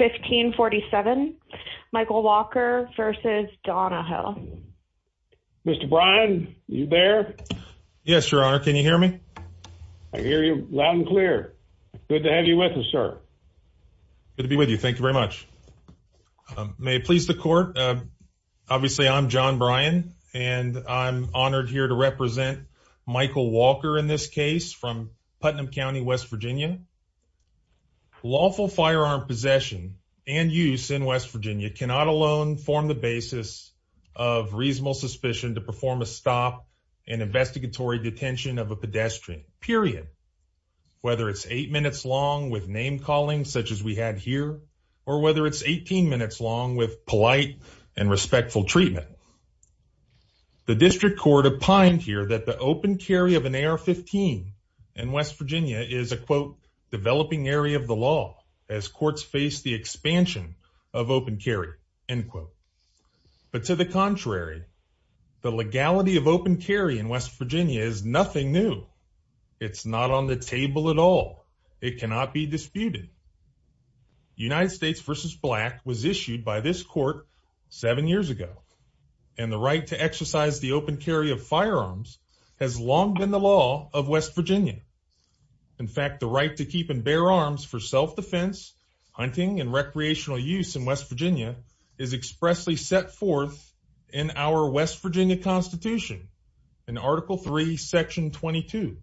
1547 michael walker v. donahoe mr brian you there yes your honor can you hear me i hear you loud and clear good to have you with us sir good to be with you thank you very much may it please the court uh obviously i'm john brian and i'm honored here to represent michael walker in this case from putnam county west virginia lawful firearm possession and use in west virginia cannot alone form the basis of reasonable suspicion to perform a stop in investigatory detention of a pedestrian period whether it's eight minutes long with name calling such as we had here or whether it's 18 minutes long with polite and respectful treatment the district court opined here that the open carry of an ar-15 in west virginia is a quote developing area of the law as courts face the expansion of open carry end quote but to the contrary the legality of open carry in west virginia is nothing new it's not on the table at all it cannot be disputed united states versus black was issued by this court seven years ago and the right to exercise the open carry of firearms has long been the law of west virginia in fact the right to keep and bear arms for self-defense hunting and recreational use in west virginia is expressly set forth in our west virginia constitution in article 3 section 22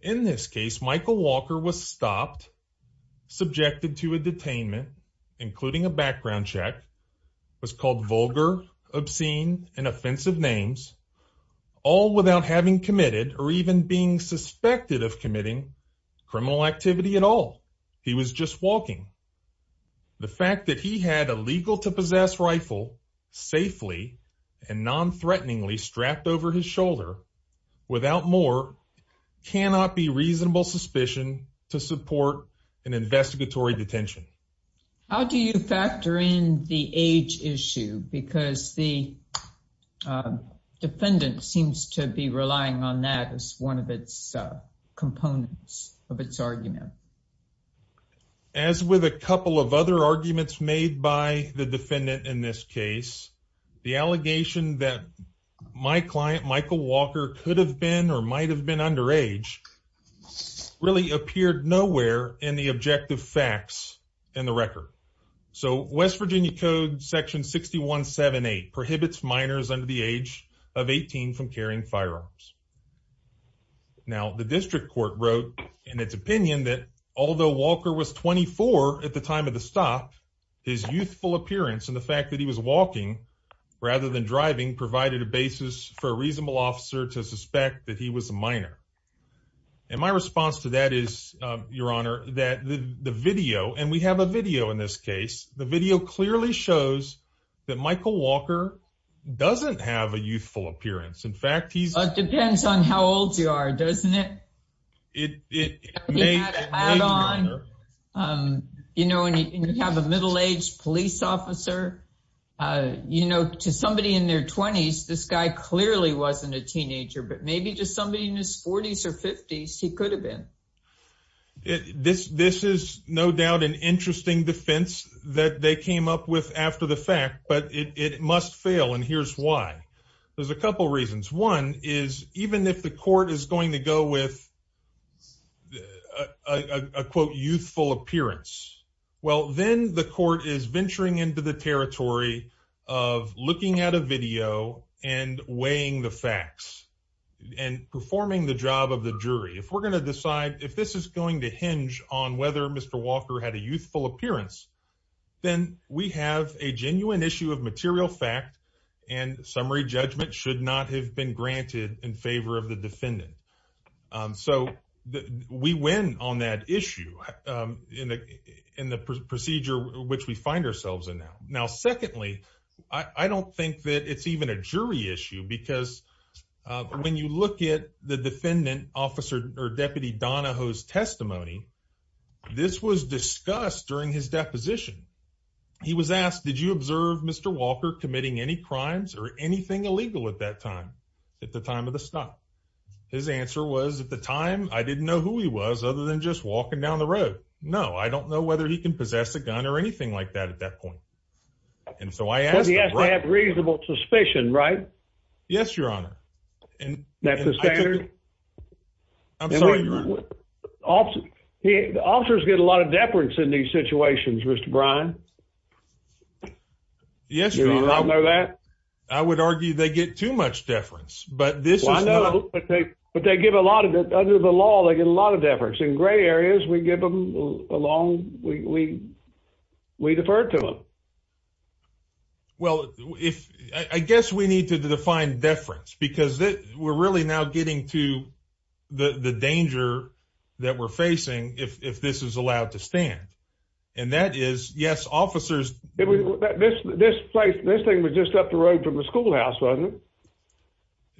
in this case michael walker was stopped subjected to a detainment including a background check was called vulgar obscene and offensive names all without having committed or even being suspected of committing criminal activity at all he was just walking the fact that he had a legal to possess rifle safely and non-threateningly strapped over his shoulder without more cannot be reasonable suspicion to support an investigatory detention how do you factor in the age issue because the defendant seems to be relying on that as one of its components of its argument as with a couple of other arguments made by the defendant in this case the allegation that my client michael walker could have been or might have been under age really appeared nowhere in the objective facts in the record so west virginia code section 6178 prohibits minors under the age of 18 from carrying firearms now the district court wrote in its opinion that although walker was 24 at the time of the stop his youthful appearance and the fact that he was walking rather than driving provided a basis for a reasonable officer to suspect that he was a minor and my response to that is your honor that the video and we have a video in this case the video clearly shows that michael walker doesn't have a youthful appearance in fact he's it depends on how old you are doesn't it it it may add on um you know and you have a middle-aged police officer uh you know to somebody in their 20s this guy clearly wasn't a teenager but maybe just somebody in his 40s or 50s he could have been this this is no doubt an interesting defense that they came up with after the fact but it it must fail and here's why there's a couple reasons one is even if the court is going to go with a a quote youthful appearance well then the court is venturing into the territory of looking at a video and weighing the facts and performing the job of the jury if we're going to decide if this is going to hinge on whether mr walker had a youthful appearance then we have a genuine issue of material fact and summary judgment should not have been granted in favor of the defendant um so we win on that issue um in the in the procedure which we find ourselves in now now secondly i i don't think that it's even a jury issue because when you look at the defendant officer or deputy donahoe's testimony this was discussed during his deposition he was asked did you observe mr walker committing any crimes or anything illegal at that time at the time of the stop his answer was at the time i didn't know who he was other than just walking down the road no i don't know whether he can possess a gun or anything like that at that point and so i asked yes they have reasonable suspicion right yes your honor and that's the standard i'm sorry your honor the officers get a lot of deference in these situations mr brian yes you don't know that i would argue they get too much deference but this is but they give a lot of it under the law they get a lot of deference in gray areas we give them along we we defer to them well if i guess we need to define deference because that we're really now getting to the the danger that we're facing if if this is allowed to stand and that is yes officers this this place this thing was just up the road from the schoolhouse wasn't it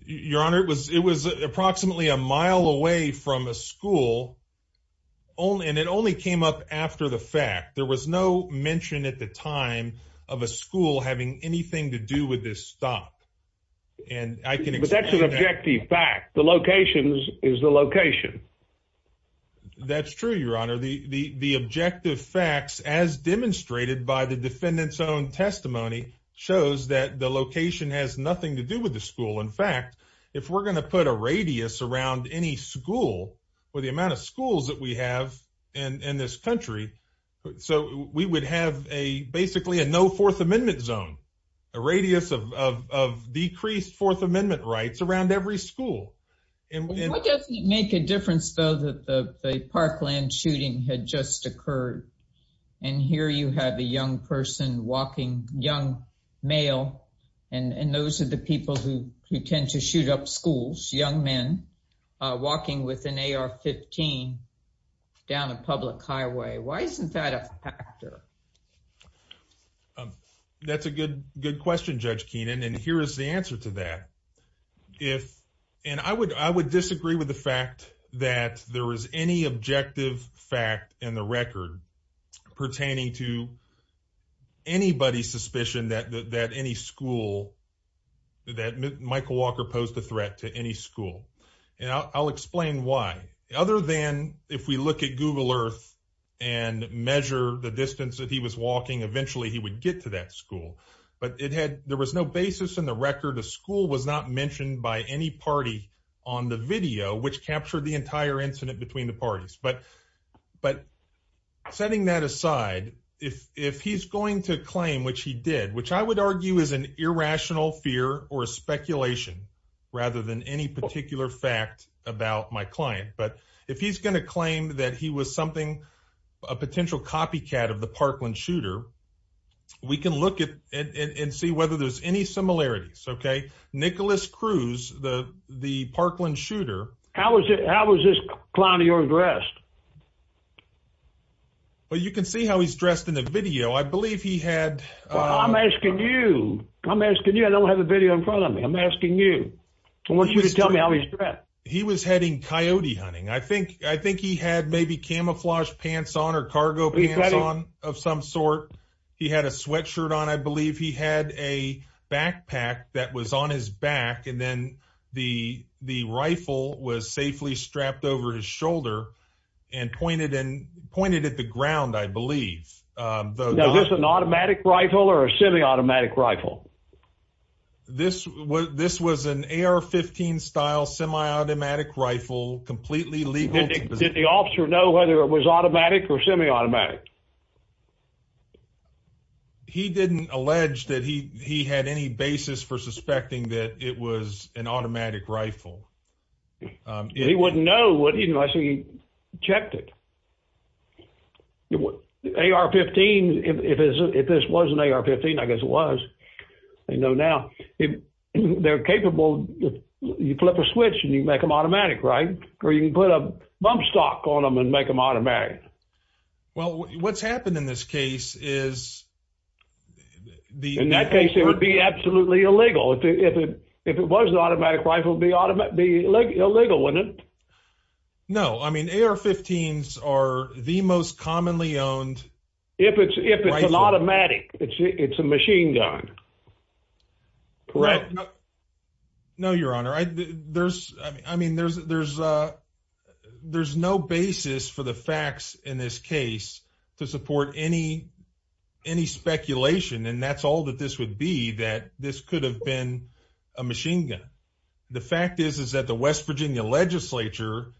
your honor it was it was approximately a mile away from a school only and it only came up after the fact there was no mention at the time of a school having anything to do with this stop and i can but that's an objective fact the locations is the location that's true your honor the the the objective facts as demonstrated by the defendant's own testimony shows that the location has nothing to do with the school in fact if we're going to put a radius around any school or the amount of schools that we have in in this country so we would have a basically a no fourth amendment zone a radius of of decreased fourth amendment rights around every school and what does it make a difference though that the parkland shooting had just occurred and here you have a young person walking young male and and those are the people who who tend to shoot up schools young men walking with an ar-15 down a public highway why isn't that a factor that's a good good question judge keenan and here is the answer to that if and i would i would disagree with the fact that there is any objective fact in the record pertaining to anybody's suspicion that that any school that michael walker posed a threat to any school and i'll explain why other than if we look at google earth and measure the distance that he was walking eventually he would get to that school but it had there was no basis in the record the any party on the video which captured the entire incident between the parties but but setting that aside if if he's going to claim which he did which i would argue is an irrational fear or a speculation rather than any particular fact about my client but if he's going to claim that he was something a potential copycat of the parkland shooter we can look at and see whether there's any similarities okay nicholas cruz the the parkland shooter how was it how was this clown of yours dressed well you can see how he's dressed in the video i believe he had i'm asking you i'm asking you i don't have a video in front of me i'm asking you i want you to tell me how he's dressed he was heading coyote hunting i think i think he had maybe camouflage pants on or cargo pants on of some sort he had a sweatshirt on i believe he had a backpack that was on his back and then the the rifle was safely strapped over his shoulder and pointed and pointed at the ground i believe um is this an automatic rifle or a semi-automatic rifle this was this was an ar-15 style semi-automatic rifle completely legal did the officer know whether it was automatic or semi-automatic he didn't allege that he he had any basis for suspecting that it was an automatic rifle um he wouldn't know what you know i think he checked it ar-15 if this was an ar-15 i guess it was they know now if they're capable you flip a switch and you make them automatic right or you can put a bump stock on them and make them automatic well what's happened in this case is the in that case it would be absolutely illegal if it if it was an automatic rifle be automatic be illegal wouldn't it no i mean ar-15s are the most commonly owned if it's if it's an automatic it's it's a machine gun correct no your honor i there's i mean there's there's uh there's no basis for the facts in this case to support any any speculation and that's all that this would be that this could have been a machine gun the fact is is that the west virginia legislature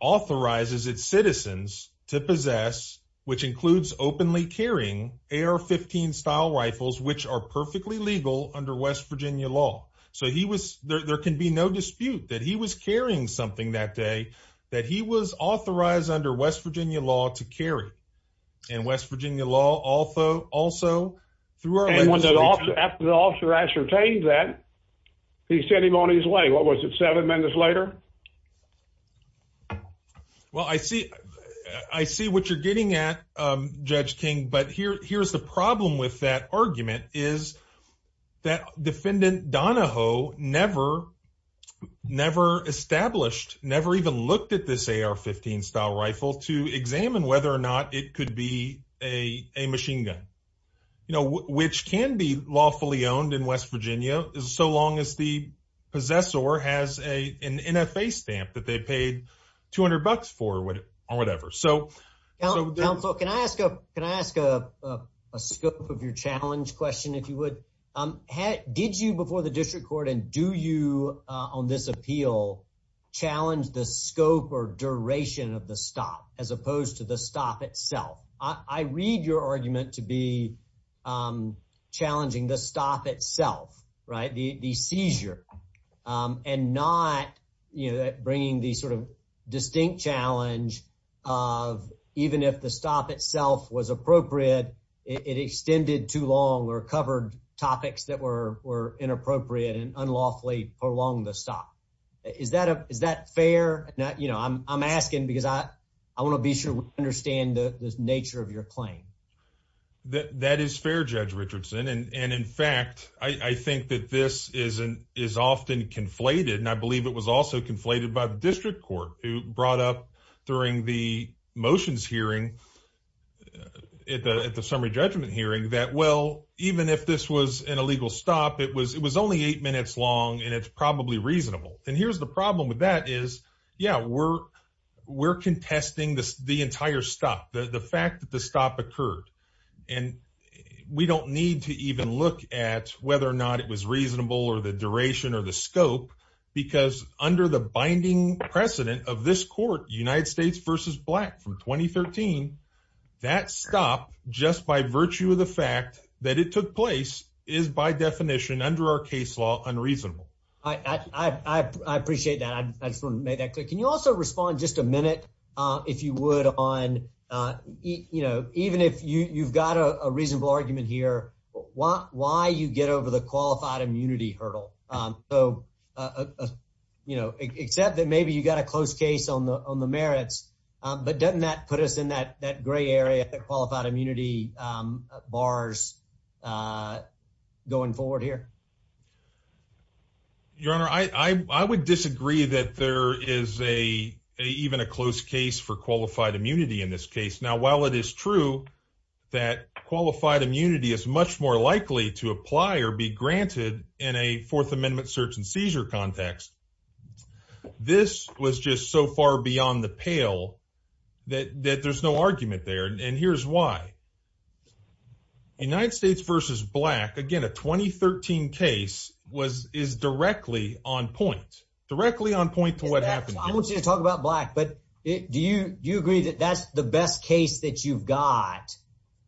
authorizes its citizens to possess which includes openly carrying ar-15 style rifles which are perfectly legal under west virginia law so he was there can be no dispute that he was carrying something that day that he was authorized under west virginia law to carry and west virginia law also also through our the officer ascertained that he sent him on his way what was it seven minutes later well i see i see what you're getting at um judge king but here here's the problem with that rifle to examine whether or not it could be a a machine gun you know which can be lawfully owned in west virginia is so long as the possessor has a an nfa stamp that they paid 200 bucks for or whatever so counsel can i ask a can i ask a a scope of your challenge question if you would um had did you before the district court and do you uh on this appeal challenge the scope or duration of the stop as opposed to the stop itself i read your argument to be um challenging the stop itself right the the seizure um and not you know that bringing the sort of distinct challenge of even if the stop itself was appropriate it extended too long or covered topics that were were inappropriate and unlawfully prolonged the stop is that a is that fair not you know i'm i'm asking because i i want to be sure we understand the nature of your claim that that is fair judge richardson and and in fact i i think that this is an is often conflated and i believe it was also conflated by the district court who brought up during the motions hearing at the at the summary judgment hearing that well even if this was an illegal stop it was it was only eight minutes long and it's probably reasonable and here's the problem with that is yeah we're we're contesting this the entire stop the the fact that the stop occurred and we don't need to even look at whether or not it was reasonable or the duration or the scope because under the binding precedent of this court united states versus black from 2013 that stop just by virtue of the fact that it took place is by definition under our case law unreasonable i i i appreciate that i just want to make that quick can you also respond just a minute uh if you would on uh you know even if you you've got a reasonable argument here why why you get over the qualified immunity hurdle um so uh you know except that maybe you got a close case on the on the merits um but doesn't that put us in that that gray area qualified immunity um bars uh going forward here your honor i i would disagree that there is a even a close case for qualified immunity in this case now while it is true that qualified immunity is much more likely to apply or be granted in a fourth amendment search and seizure context this was just so far beyond the pale that that there's no argument there and here's why united states versus black again a 2013 case was is directly on point directly on point to what happened i want you to talk about black but do you do you agree that that's the best case that you've got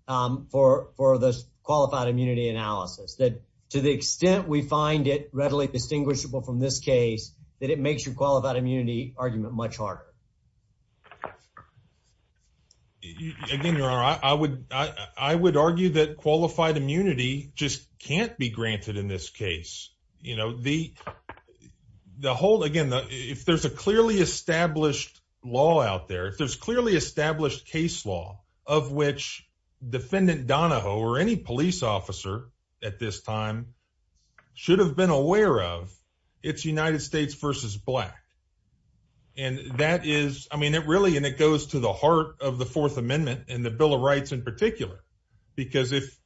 um for for this qualified immunity analysis that to the extent we find it readily distinguishable from this case that it makes your qualified immunity argument much harder to do again your honor i would i i would argue that qualified immunity just can't be granted in this case you know the the whole again if there's a clearly established law out there if there's clearly established case law of which defendant donahoe or any police officer at this time should have been aware of it's united states versus black and that is i mean it really and it goes to the heart of the fourth amendment and the bill of rights in particular because if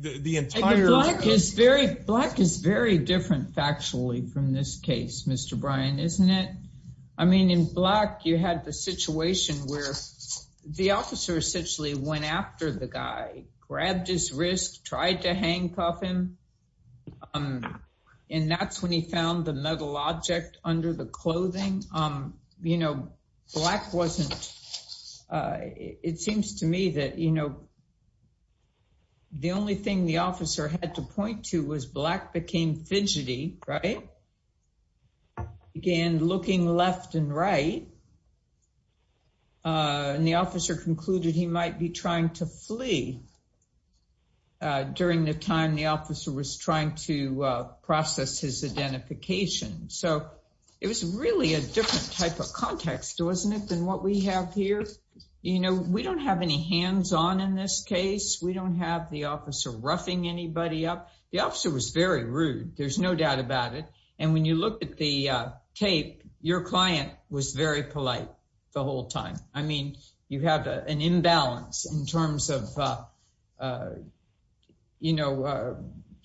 the entire black is very black is very different factually from this case mr brian isn't it i mean in black you had the situation where the officer essentially went after the guy grabbed his wrist tried to handcuff him um and that's when he found the metal object under the clothing um you know black wasn't uh it seems to me that you know the only thing the officer had to point to was black became fidgety right began looking left and right uh and the officer concluded he might be trying to flee uh during the time the officer was trying to uh process his identification so it was really a different type of context wasn't it than what we have here you know we don't have any hands on in this case we don't have the officer roughing anybody up the officer was very rude there's no doubt about it and when you look at the uh tape your client was very polite the whole time i mean you have an imbalance in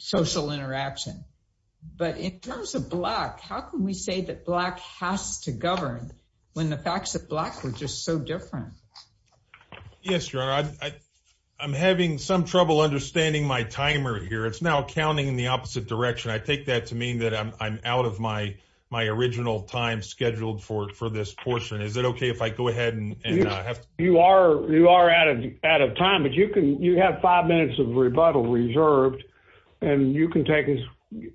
social interaction but in terms of black how can we say that black has to govern when the facts that black were just so different yes your honor i i'm having some trouble understanding my timer here it's now counting in the opposite direction i take that to mean that i'm i'm out of my my original time scheduled for for this portion is it okay if i go ahead and you are you are out out of time but you can you have five minutes of rebuttal reserved and you can take as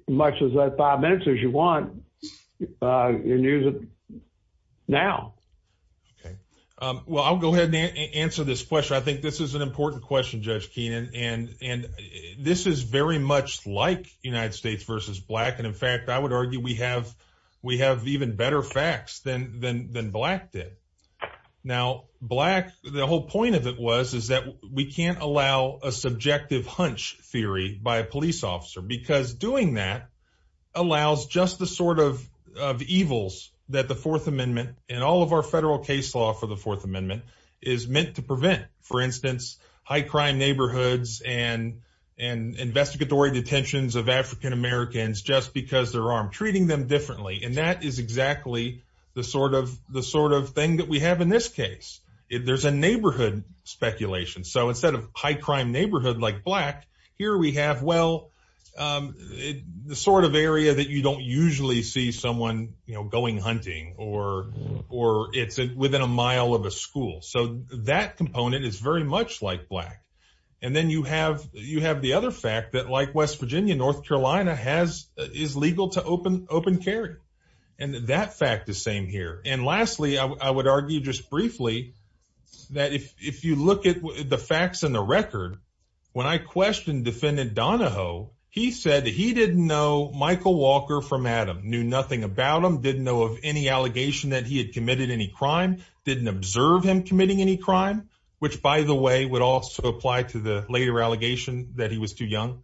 much as that five minutes as you want uh and use it now okay um well i'll go ahead and answer this question i think this is an important question judge keenan and and this is very much like united states versus black and in fact i would argue we have we have even better facts than than than black now black the whole point of it was is that we can't allow a subjective hunch theory by a police officer because doing that allows just the sort of of evils that the fourth amendment and all of our federal case law for the fourth amendment is meant to prevent for instance high crime neighborhoods and and investigatory detentions of african-americans just because they're armed and that is exactly the sort of the sort of thing that we have in this case if there's a neighborhood speculation so instead of high crime neighborhood like black here we have well um the sort of area that you don't usually see someone you know going hunting or or it's within a mile of a school so that component is very much like black and then you have you have the other fact that like west open carry and that fact is same here and lastly i would argue just briefly that if if you look at the facts in the record when i questioned defendant donahoe he said he didn't know michael walker from adam knew nothing about him didn't know of any allegation that he had committed any crime didn't observe him committing any crime which by the way would also apply to the later allegation that he was too young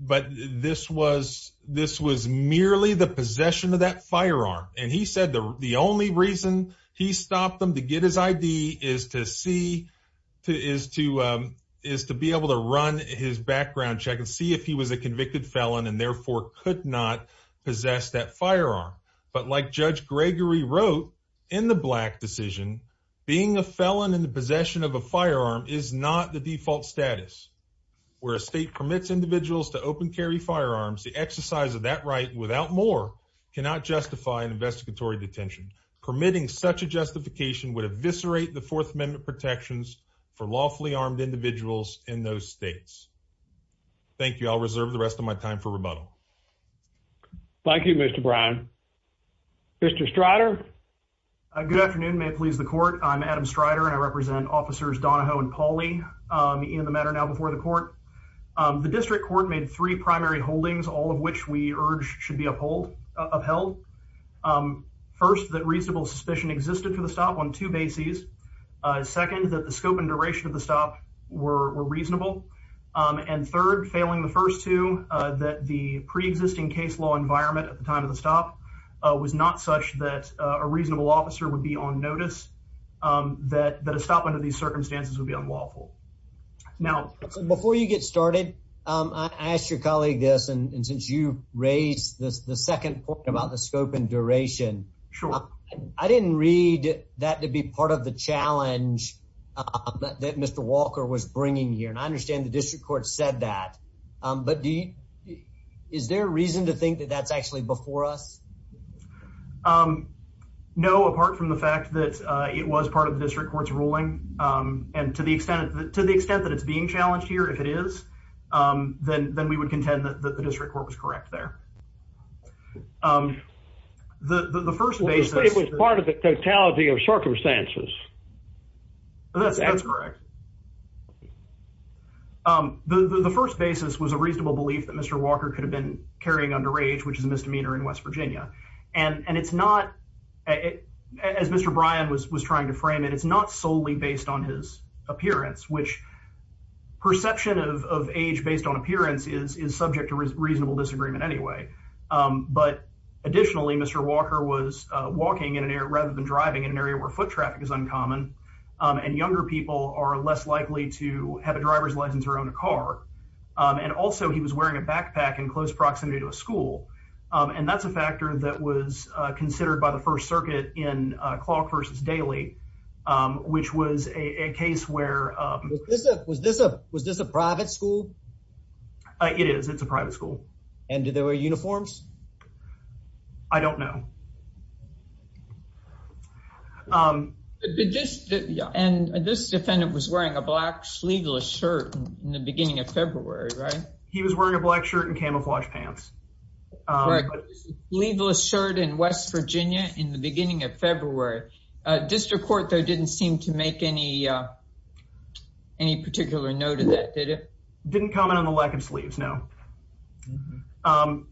but this was this was merely the possession of that firearm and he said the the only reason he stopped them to get his id is to see to is to is to be able to run his background check and see if he was a convicted felon and therefore could not possess that firearm but like judge gregory wrote in the black decision being a felon in the possession of a firearm is not the default status where a state permits individuals to open carry firearms the exercise of that right without more cannot justify an investigatory detention permitting such a justification would eviscerate the fourth amendment protections for lawfully armed individuals in those states thank you i'll reserve the rest of my time for rebuttal thank you mr bryan mr strider a good afternoon may it please the court i'm adam strider and i represent officers donahoe and paulie um in the matter now before the court um the district court made three primary holdings all of which we urge should be uphold upheld um first that reasonable suspicion existed for the stop on two bases uh second that the scope and duration of the stop were reasonable and third failing the first two uh that the pre-existing case law environment at the time of the stop uh was not such that a reasonable officer would be on notice um that that a stop under these circumstances would be unlawful now before you get started um i asked your colleague this and since you raised this the second point about the scope and duration sure i didn't read that to be part of the challenge that mr walker was bringing here and i understand the district court said that um but do you is there a reason to think that that's actually before us um no apart from the fact that uh it was part of the district court's ruling um and to the extent to the extent that it's being challenged here if it is um then then we would contend that the district court was correct there um the the first basis part of the totality of circumstances that's that's correct um the the first basis was a reasonable belief that mr walker could have been carrying underage which is a misdemeanor in west virginia and and it's not as mr brian was was trying to frame it it's not solely based on his appearance which perception of of age based on appearance is is subject to reasonable disagreement anyway um but additionally mr walker was uh walking in an area rather than driving in an area where foot traffic is uncommon and younger people are less likely to have a driver's license or own a car and also he was wearing a backpack in close proximity to a school and that's a factor that was uh considered by the first circuit in uh clock versus daily um which was a a case where uh was this a was this a private school uh it is it's a private school and did they wear uniforms i don't know um did this and this defendant was wearing a black sleeveless shirt in the beginning of february right he was wearing a black shirt and camouflage pants um leaveless shirt in west virginia in the beginning of february uh district court though didn't seem to make any uh any particular note of that did it didn't comment on the lack of sleeves no um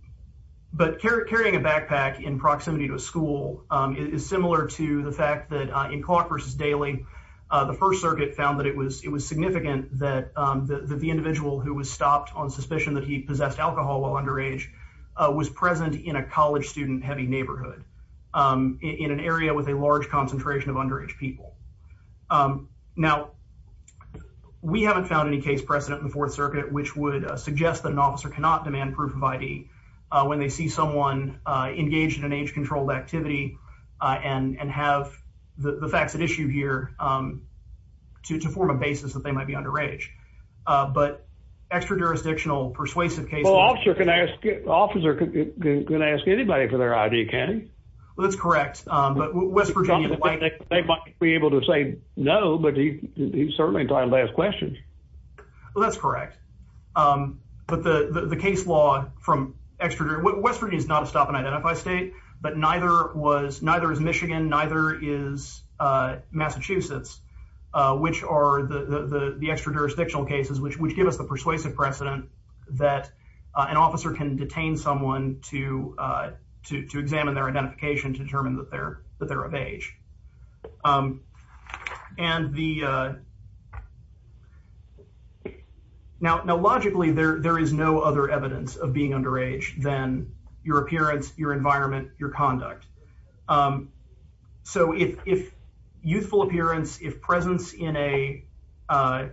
but carrying a backpack in proximity to a school um is similar to the fact that in clock versus daily uh the first circuit found that it was it was significant that um that the individual who was stopped on suspicion that he possessed alcohol while underage uh was present in a college student heavy neighborhood um in an area with a large concentration of underage people um now we haven't found any case precedent in the fourth circuit which would suggest that an officer cannot demand proof of id uh when they see someone uh engaged in an age-controlled activity uh and and have the facts at issue here um to to form a basis that they might be underage uh but extra jurisdictional persuasive case officer can ask officer can ask anybody for their idk well that's correct um but west virginia they might be able to say no but he he's certainly trying to ask questions well that's correct um but the the case law from extra west virginia is not a stop and identify state but neither was neither is michigan neither is uh massachusetts uh which are the the extra jurisdictional cases which which give us the persuasive precedent that an officer can detain someone to uh to to examine their identification to determine that they're that they're of age um and the uh now now logically there there is no other evidence of being underage than your appearance your environment your conduct um so if if youthful appearance if presence in a uh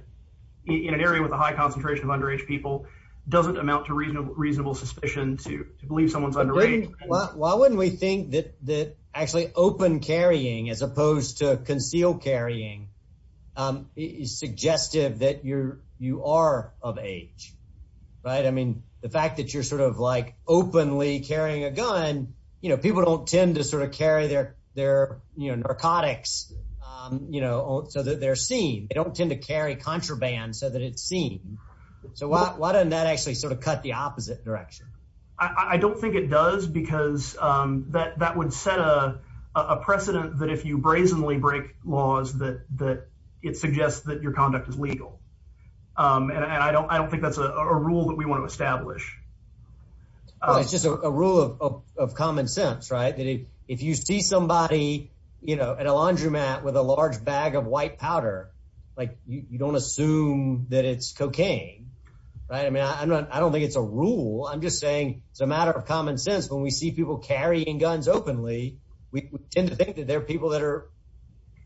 in an area with a high concentration of underage people doesn't amount to reasonable reasonable suspicion to believe someone's underage well why wouldn't we think that that actually open carrying as opposed to conceal carrying um is suggestive that you're you are of age right i mean the fact that you're sort of like openly carrying a gun you know people don't tend to sort of carry their their you know narcotics um you know so that they're seen they don't tend to carry contraband so that it's seen so why why doesn't that actually sort of cut the opposite direction i i don't think it does because um that that would set a a precedent that if you brazenly break laws that that it suggests that your conduct is legal um and i don't i don't think that's a rule that we want to establish it's just a rule of of common sense right that if you see somebody you know at a laundromat with a large bag of white powder like you don't assume that it's cocaine right i mean i'm not i don't think it's a rule i'm just saying it's a matter of common sense when we see people carrying guns openly we tend to think that they're people that are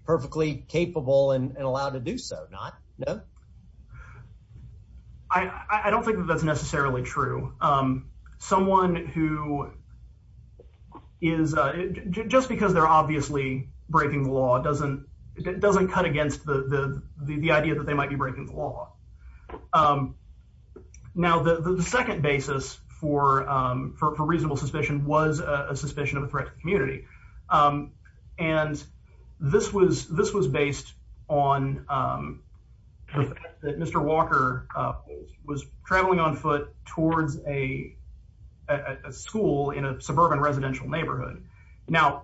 perfectly capable and allowed to do so not no i i don't think that necessarily true um someone who is uh just because they're obviously breaking the law doesn't it doesn't cut against the the the idea that they might be breaking the law um now the the second basis for um for reasonable suspicion was a suspicion of a threat to the community um and this was this was based on um the fact that mr walker uh was traveling on foot towards a school in a suburban residential neighborhood now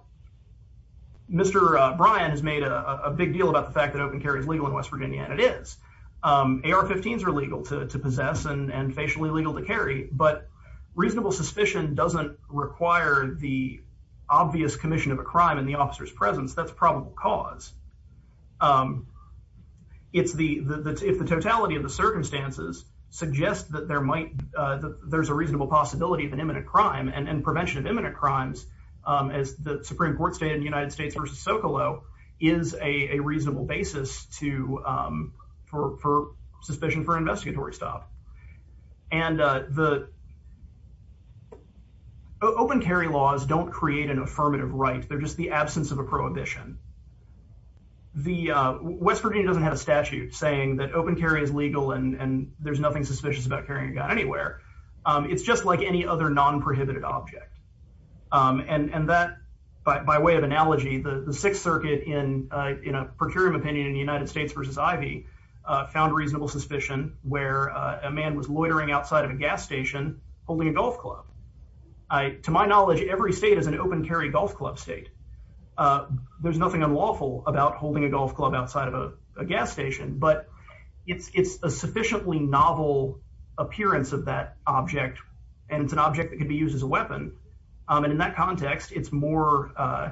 mr uh brian has made a a big deal about the fact that open carry is legal in west virginia and it is um ar-15s are legal to to possess and and facially legal to carry but reasonable suspicion doesn't require the obvious commission of a crime in the officer's presence that's probable cause um it's the the if the totality of the circumstances suggest that there might uh there's a reasonable possibility of an imminent crime and and prevention of imminent crimes um as the supreme court stated in the united states versus socolow is a a reasonable basis to um for for suspicion for investigatory stop and uh the uh open carry laws don't create an affirmative right they're just the absence of a prohibition the uh west virginia doesn't have a statute saying that open carry is legal and and there's nothing suspicious about carrying a gun anywhere um it's just like any other non-prohibited object um and and that by by way of analogy the the sixth circuit in uh in a procurator opinion in the united states versus ivy uh found reasonable suspicion where a man was loitering outside of a gas station holding a golf club i to my knowledge every state is an open carry golf club state uh there's nothing unlawful about holding a golf club outside of a gas station but it's it's a sufficiently novel appearance of that object and it's an object that can be used as a weapon um and in that context it's more uh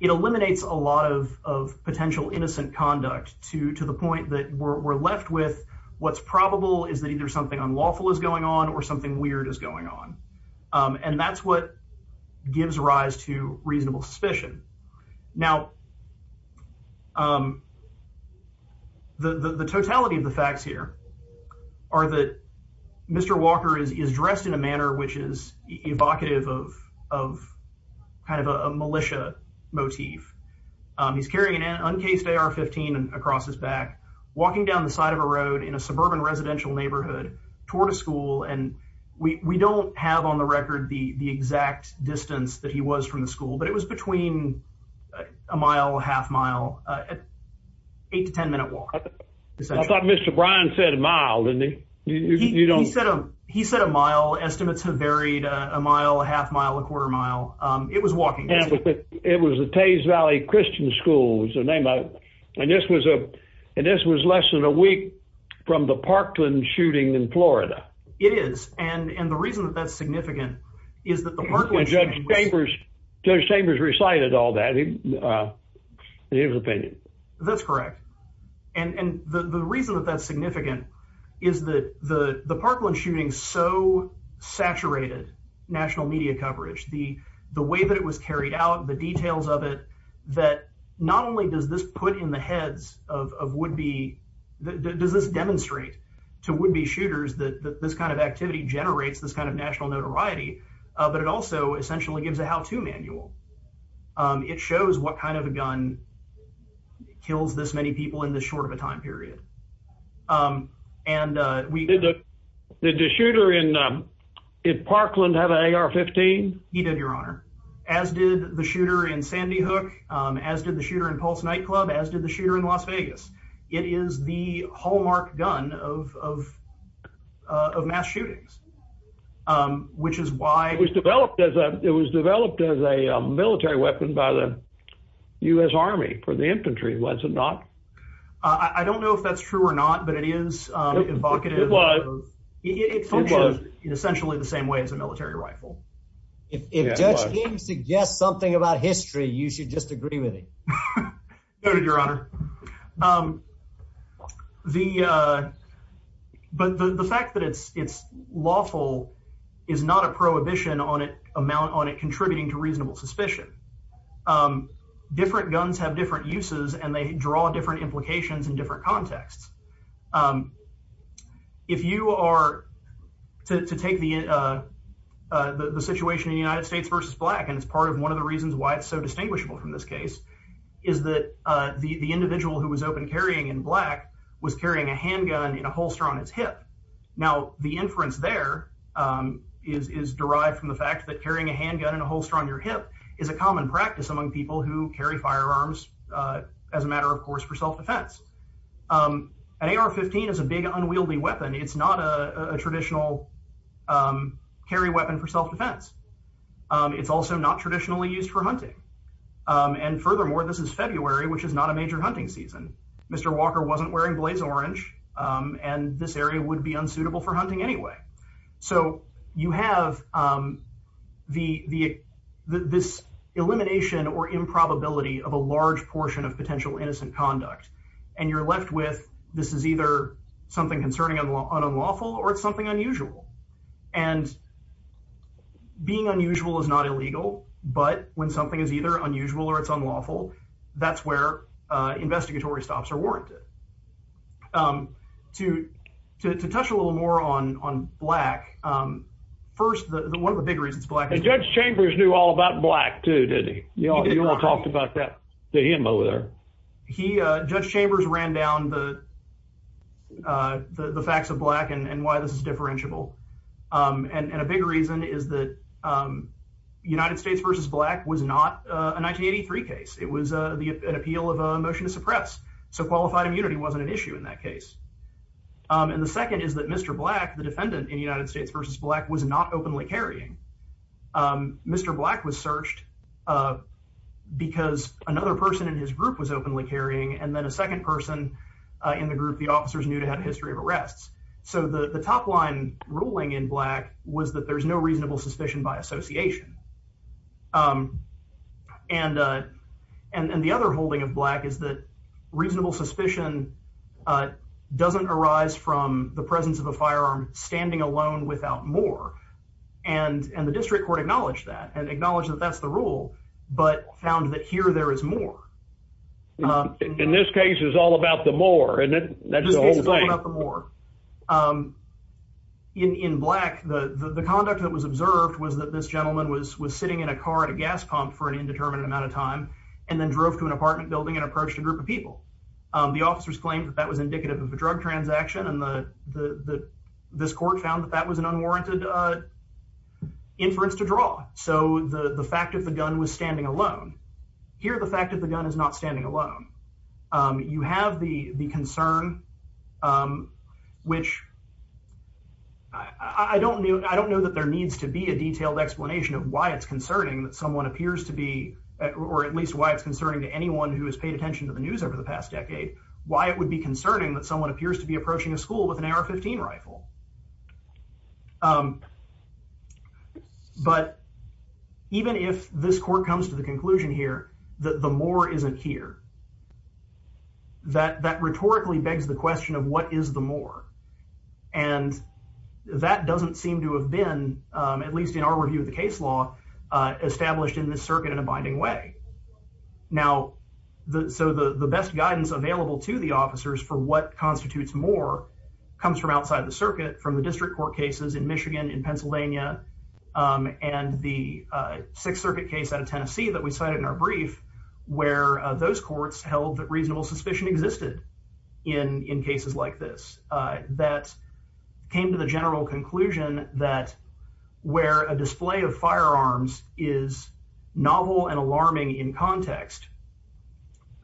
it eliminates a lot of of potential innocent conduct to to the point that we're left with what's probable is that either something unlawful is going on or something weird is going on um and that's what gives rise to reasonable suspicion now um the the totality of the facts here are that mr walker is is dressed in a manner which is evocative of of kind of a militia motif um he's carrying an uncased ar-15 and across his back walking down the side of a road in a suburban residential neighborhood toward a school and we we don't have on the record the the exact distance that he was from the school but it was between a mile half mile uh eight to ten minute walk i thought mr bryan said a mile didn't he you don't he said a mile estimates have varied a mile a half mile a quarter mile um it was walking it was the tase valley christian school was the name of and this was a and this was less than a week from the parkland shooting in florida it is and and the reason that that's significant is that the parkland judge chambers judge chambers recited all that uh in his opinion that's correct and and the the reason that that's significant is that the the parkland shooting so saturated national media coverage the the way that it was carried out the details of it that not only does this put in the heads of of would-be does this demonstrate to would-be shooters that this kind of activity generates this kind of national notoriety but it also essentially gives a how-to manual um it shows what kind of a gun kills this many people in this short of a time period um and uh we did the shooter in um did parkland have an ar-15 he did your honor as did the shooter in sandy hook um as did the shooter in pulse nightclub as did the shooter in las vegas it is the hallmark gun of of uh of mass shootings um which is why it was developed as a it was developed as a military weapon by the u.s army for the infantry was it not i i don't know if that's true or not but it is um evocative it was it functions in essentially the same way as a military rifle if judge seems to guess something about history you should just agree with it noted your honor um the uh but the the fact that it's it's lawful is not a prohibition on it amount on it contributing to reasonable suspicion um different guns have different uses and they draw different implications in different contexts um if you are to to take the uh uh the the situation in the united states versus black and it's part of one of the reasons why it's so distinguishable from this case is that uh the the individual who was open carrying in black was carrying a handgun in a holster on its hip now the inference there um is is derived from the fact that carrying a handgun in a holster on your hip is a common practice among people who carry firearms uh as a matter of course for self-defense um an ar-15 is a big unwieldy weapon it's not a a traditional um carry weapon for self-defense um it's also not traditionally used for hunting and furthermore this is february which is not a major hunting season mr walker wasn't wearing blaze orange um and this area would be unsuitable for hunting anyway so you have um the the this elimination or improbability of a large portion of potential innocent conduct and you're left with this is either something concerning unlawful or it's something unusual and being unusual is not illegal but when something is either unusual or it's unlawful that's where uh investigatory stops are warranted um to to touch a little more on on black um first the one of the big reasons black judge chambers knew all about black too did he you all talked about that to him over there he uh chambers ran down the uh the the facts of black and and why this is differentiable um and and a big reason is that um united states versus black was not a 1983 case it was a the appeal of a motion to suppress so qualified immunity wasn't an issue in that case um and the second is that mr black the defendant in united states versus black was not openly carrying um mr black was uh in the group the officers knew to have a history of arrests so the the top line ruling in black was that there's no reasonable suspicion by association um and uh and and the other holding of black is that reasonable suspicion uh doesn't arise from the presence of a firearm standing alone without more and and the district court acknowledged that and acknowledged that that's the rule but found that here there is more um in this case is all about the more and that's the whole thing um in in black the the conduct that was observed was that this gentleman was was sitting in a car at a gas pump for an indeterminate amount of time and then drove to an apartment building and approached a group of people um the officers claimed that that was indicative of a drug transaction and the the the this court found that that was an unwarranted uh inference to draw so the the fact of the gun was standing alone here the fact that the gun is not standing alone um you have the the concern um which i i don't know i don't know that there needs to be a detailed explanation of why it's concerning that someone appears to be or at least why it's concerning to anyone who has paid attention to the news over the past decade why it would be concerning that approaching a school with an ar-15 rifle um but even if this court comes to the conclusion here that the more isn't here that that rhetorically begs the question of what is the more and that doesn't seem to have been um at least in our review of the case law uh established in this circuit in a binding way now the so the the best guidance available to the officers for what constitutes more comes from outside the circuit from the district court cases in michigan in pennsylvania um and the uh sixth circuit case out of tennessee that we cited in our brief where those courts held that reasonable suspicion existed in in cases like this uh that came to the general conclusion that where a display of firearms is novel and alarming in context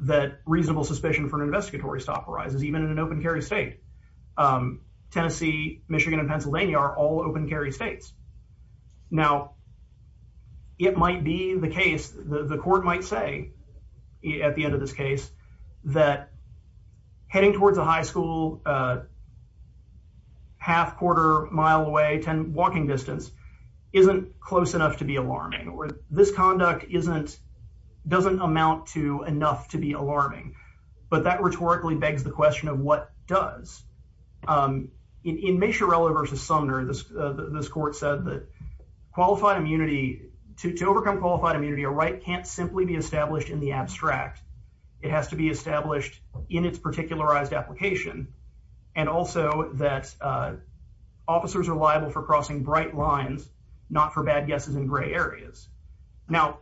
that reasonable suspicion for an investigatory stop arises even in an open carry state um tennessee michigan and pennsylvania are all open carry states now it might be the case the court might say at the end of this case that heading towards a high school uh half quarter mile away 10 walking distance isn't close enough to be alarming or this conduct isn't doesn't amount to enough to be alarming but that rhetorically begs the question of what does um in machiavelli versus sumner this uh this court said that qualified immunity to overcome qualified immunity a right can't simply be established in the abstract it has to be established in its particularized application and also that uh officers are liable for crossing bright lines not for bad guesses in gray areas now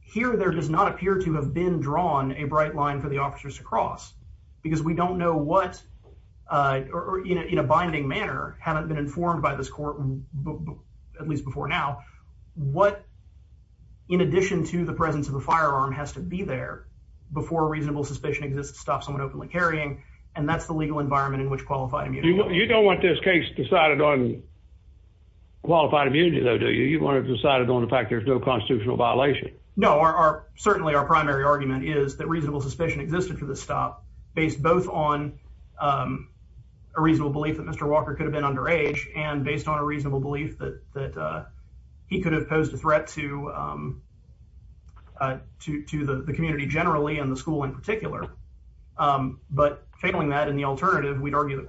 here there does not appear to have been drawn a bright line for the officers to cross because we don't know what uh or in a binding manner haven't been informed by this court at least before now what in addition to the presence of the firearm has to be there before reasonable suspicion exists to stop someone openly carrying and that's the legal environment in which qualified immunity you don't want this case decided on qualified immunity though do you want to decide it on the fact there's no constitutional violation no our certainly our primary argument is that reasonable suspicion existed for the stop based both on um a reasonable belief that mr walker could have been under age and based on a reasonable belief that that uh he could have posed a threat to um uh to to the community generally and the school in particular um but failing that in the alternative we'd argue that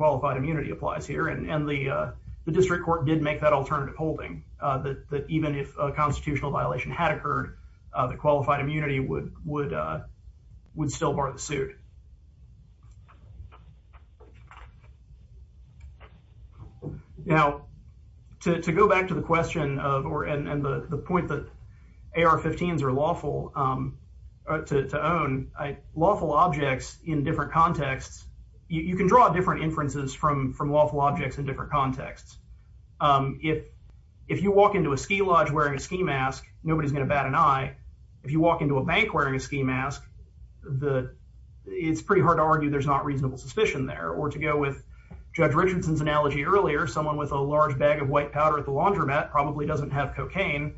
alternative holding uh that that even if a constitutional violation had occurred uh the qualified immunity would would uh would still bar the suit now to to go back to the question of or and and the the point that ar-15s are lawful um to to own lawful objects in different contexts you can draw different inferences from from lawful objects in different contexts um if if you walk into a ski lodge wearing a ski mask nobody's gonna bat an eye if you walk into a bank wearing a ski mask the it's pretty hard to argue there's not reasonable suspicion there or to go with judge richardson's analogy earlier someone with a large bag of white powder at the laundromat probably doesn't have cocaine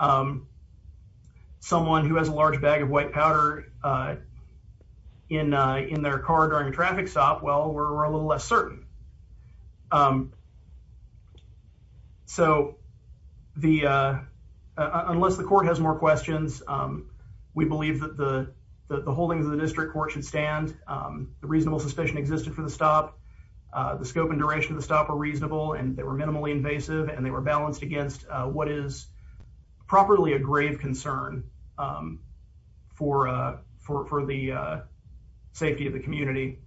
um someone who has a large bag of white powder uh in uh in their car during a traffic stop well we're a little less certain um so the uh unless the court has more questions um we believe that the the holdings of the district court should stand um the reasonable suspicion existed for the stop uh the scope and duration of the stop are reasonable and they were minimally invasive and they were balanced against uh what is properly a grave concern um for uh for for the uh safety of the community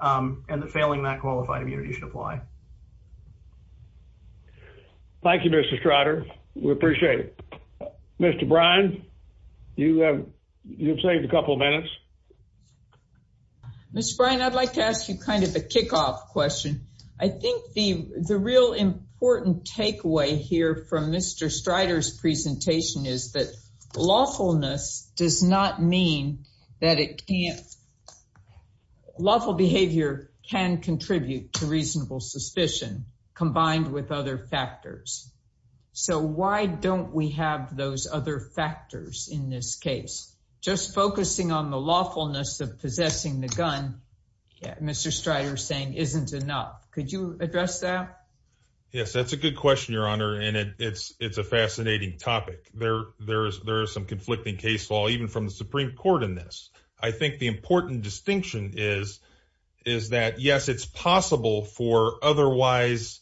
um and the failing that qualified immunity should apply thank you mr strider we appreciate it mr bryan you have you've saved a couple minutes mr bryan i'd like to ask you kind of a kickoff question i think the the real important takeaway here from mr strider's presentation is that lawfulness does not mean that it can't be lawful behavior can contribute to reasonable suspicion combined with other factors so why don't we have those other factors in this case just focusing on the lawfulness of possessing the gun mr strider saying isn't enough could you address that yes that's a good question your honor and it it's it's a fascinating topic there there is there is some conflicting case even from the supreme court in this i think the important distinction is is that yes it's possible for otherwise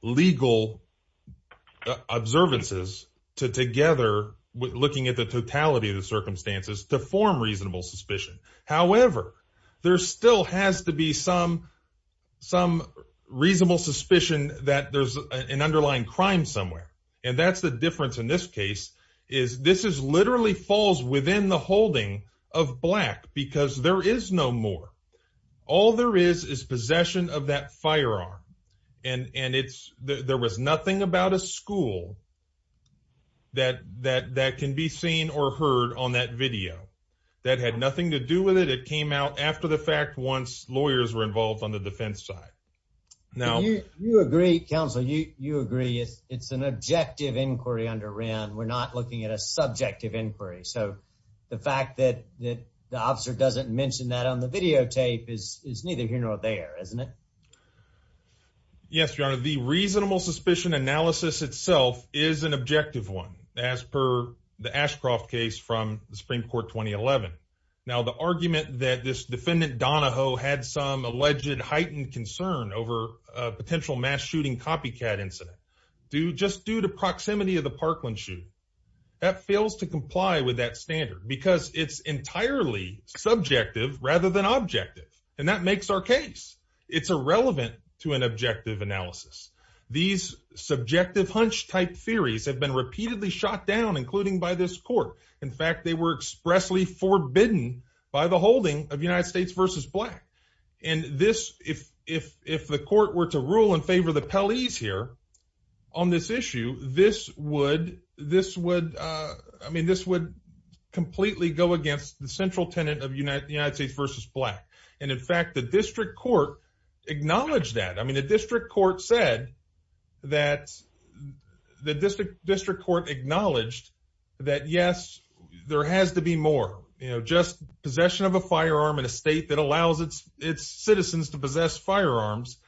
legal observances to together with looking at the totality of the circumstances to form reasonable suspicion however there still has to be some some reasonable suspicion that there's an underlying crime somewhere and that's the difference in this case is this is literally falls within the holding of black because there is no more all there is is possession of that firearm and and it's there was nothing about a school that that that can be seen or heard on that video that had nothing to do with it it came out after the fact once lawyers were involved on the defense side now you you agree counsel you you agree it's an objective inquiry under ran we're not looking at a subjective inquiry so the fact that that the officer doesn't mention that on the videotape is is neither here nor there isn't it yes your honor the reasonable suspicion analysis itself is an objective one as per the ashcroft case from the supreme court 2011 now the argument that this defendant donahoe had some alleged heightened concern over a potential mass shooting copycat incident due just due to proximity of the parkland shoot that fails to comply with that standard because it's entirely subjective rather than objective and that makes our case it's irrelevant to an objective analysis these subjective hunch type theories have been repeatedly shot down including by this court in fact they were if if the court were to rule in favor of the police here on this issue this would this would i mean this would completely go against the central tenant of united united states versus black and in fact the district court acknowledged that i mean the district court said that the district district court acknowledged that yes there has to be more you know just possession of a firearm in a state that allows its its citizens to possess firearms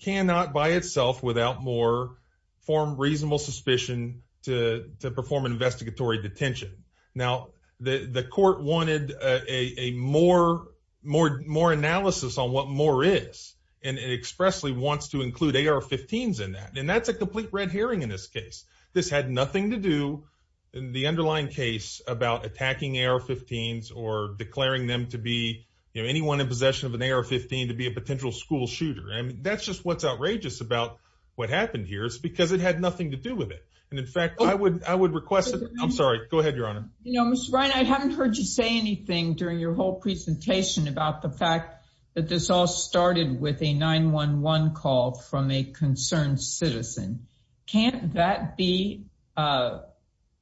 cannot by itself without more form reasonable suspicion to to perform an investigatory detention now the the court wanted a a more more more analysis on what more is and it expressly wants to include ar-15s in that and that's a complete red herring in this case this had nothing to do in the underlying case about attacking ar-15s or declaring them to be you know anyone in possession of an ar-15 to be a potential school shooter i mean that's just what's outrageous about what happened here it's because it had nothing to do with it and in fact i would i would request i'm sorry go ahead your honor you know mr ryan i haven't heard you say anything during your whole presentation about the fact that this all started with a 911 call from a concerned citizen can't that be uh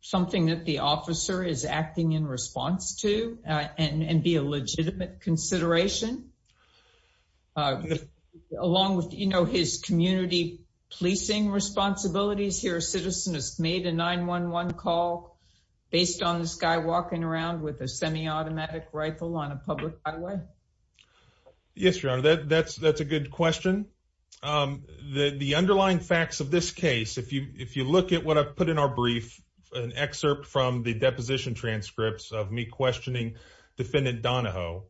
something that the officer is acting in response to uh and and be a legitimate consideration uh along with you know his community policing responsibilities here a citizen has made a 911 call based on this guy walking around with a semi-automatic rifle on a public highway yes your honor that that's that's a good question um the the underlying facts of this case if you if you look at what i've put in our brief an excerpt from the deposition transcripts of me questioning defendant donahoe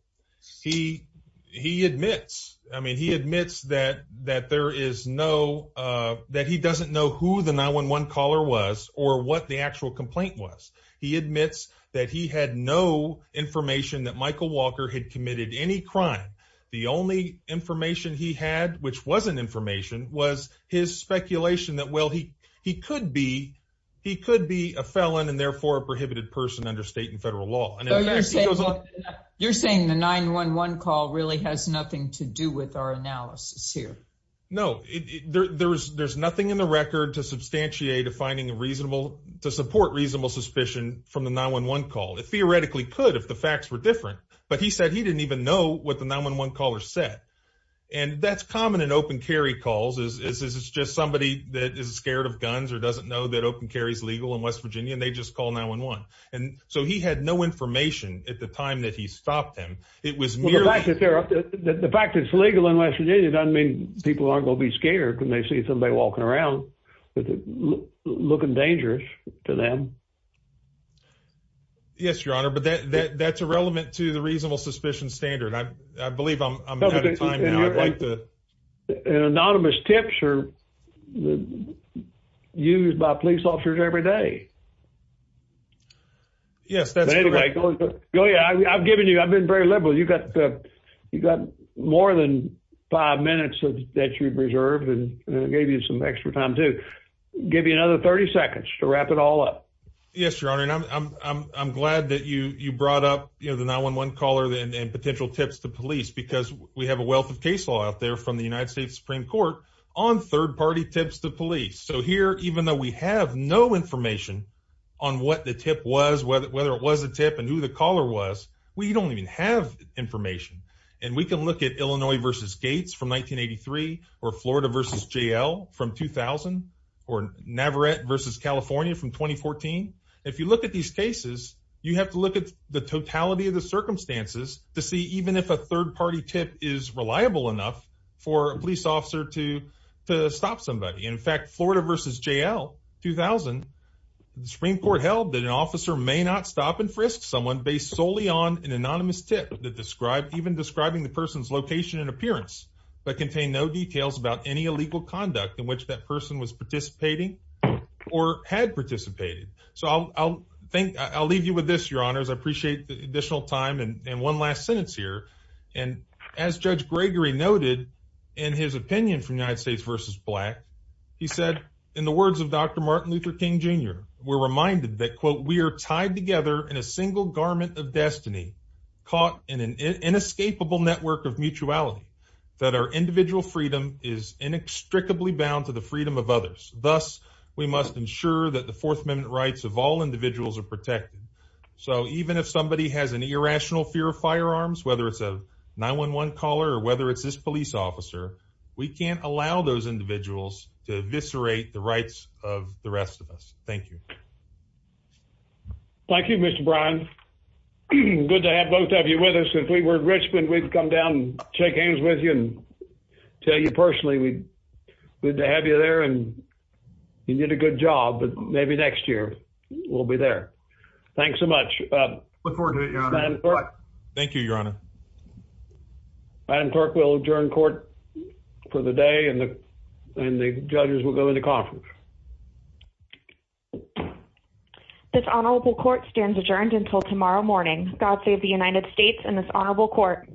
he he admits i mean he admits that that there is no uh that he doesn't know who the 911 caller was or what the actual complaint was he admits that he had no information that michael walker had committed any crime the only information he had which wasn't information was his speculation that well he he could be he could be a felon and therefore a prohibited person under state and federal law and you're saying the 911 call really has nothing to do with our analysis here no it there there's there's nothing in the record to substantiate a finding a reasonable to support reasonable suspicion from the 911 call it theoretically could if the facts were different but he said he didn't even know what the 911 caller said and that's common in open carry calls is this is just somebody that is scared of guns or doesn't know that open carry is legal in west virginia and they just call 911 and so he had no information at the time that he stopped him it was the fact that they're the fact it's legal in west virginia doesn't mean people aren't going to be scared when they see somebody walking around looking dangerous to them yes your honor but that that's irrelevant to the reasonable suspicion standard i sure used by police officers every day yes that's right oh yeah i've given you i've been very liberal you've got the you've got more than five minutes that you've reserved and gave you some extra time to give you another 30 seconds to wrap it all up yes your honor and i'm i'm i'm glad that you you brought up you know the 911 caller and potential tips to police because we have a on third party tips to police so here even though we have no information on what the tip was whether whether it was a tip and who the caller was we don't even have information and we can look at illinois versus gates from 1983 or florida versus jl from 2000 or navarette versus california from 2014 if you look at these cases you have to look at the totality of the circumstances to see even if a third party tip is reliable enough for a police officer to to stop somebody in fact florida versus jl 2000 the supreme court held that an officer may not stop and frisk someone based solely on an anonymous tip that described even describing the person's location and appearance but contain no details about any illegal conduct in which that person was participating or had participated so i'll i'll think i'll leave you with this your honors i appreciate the and as judge gregory noted in his opinion from united states versus black he said in the words of dr martin luther king jr we're reminded that quote we are tied together in a single garment of destiny caught in an inescapable network of mutuality that our individual freedom is inextricably bound to the freedom of others thus we must ensure that the fourth amendment rights of all individuals are protected so even if somebody has an irrational fear of firearms whether it's a 911 caller or whether it's this police officer we can't allow those individuals to eviscerate the rights of the rest of us thank you thank you mr bryan good to have both of you with us if we were in richmond we'd come down and shake hands with you and tell you personally we good to have you there and you did a good job but maybe next year we'll be there thanks so much look forward to it your honor thank you your honor madam clerk will adjourn court for the day and the and the judges will go into conference this honorable court stands adjourned until tomorrow morning god save the united states and this honorable court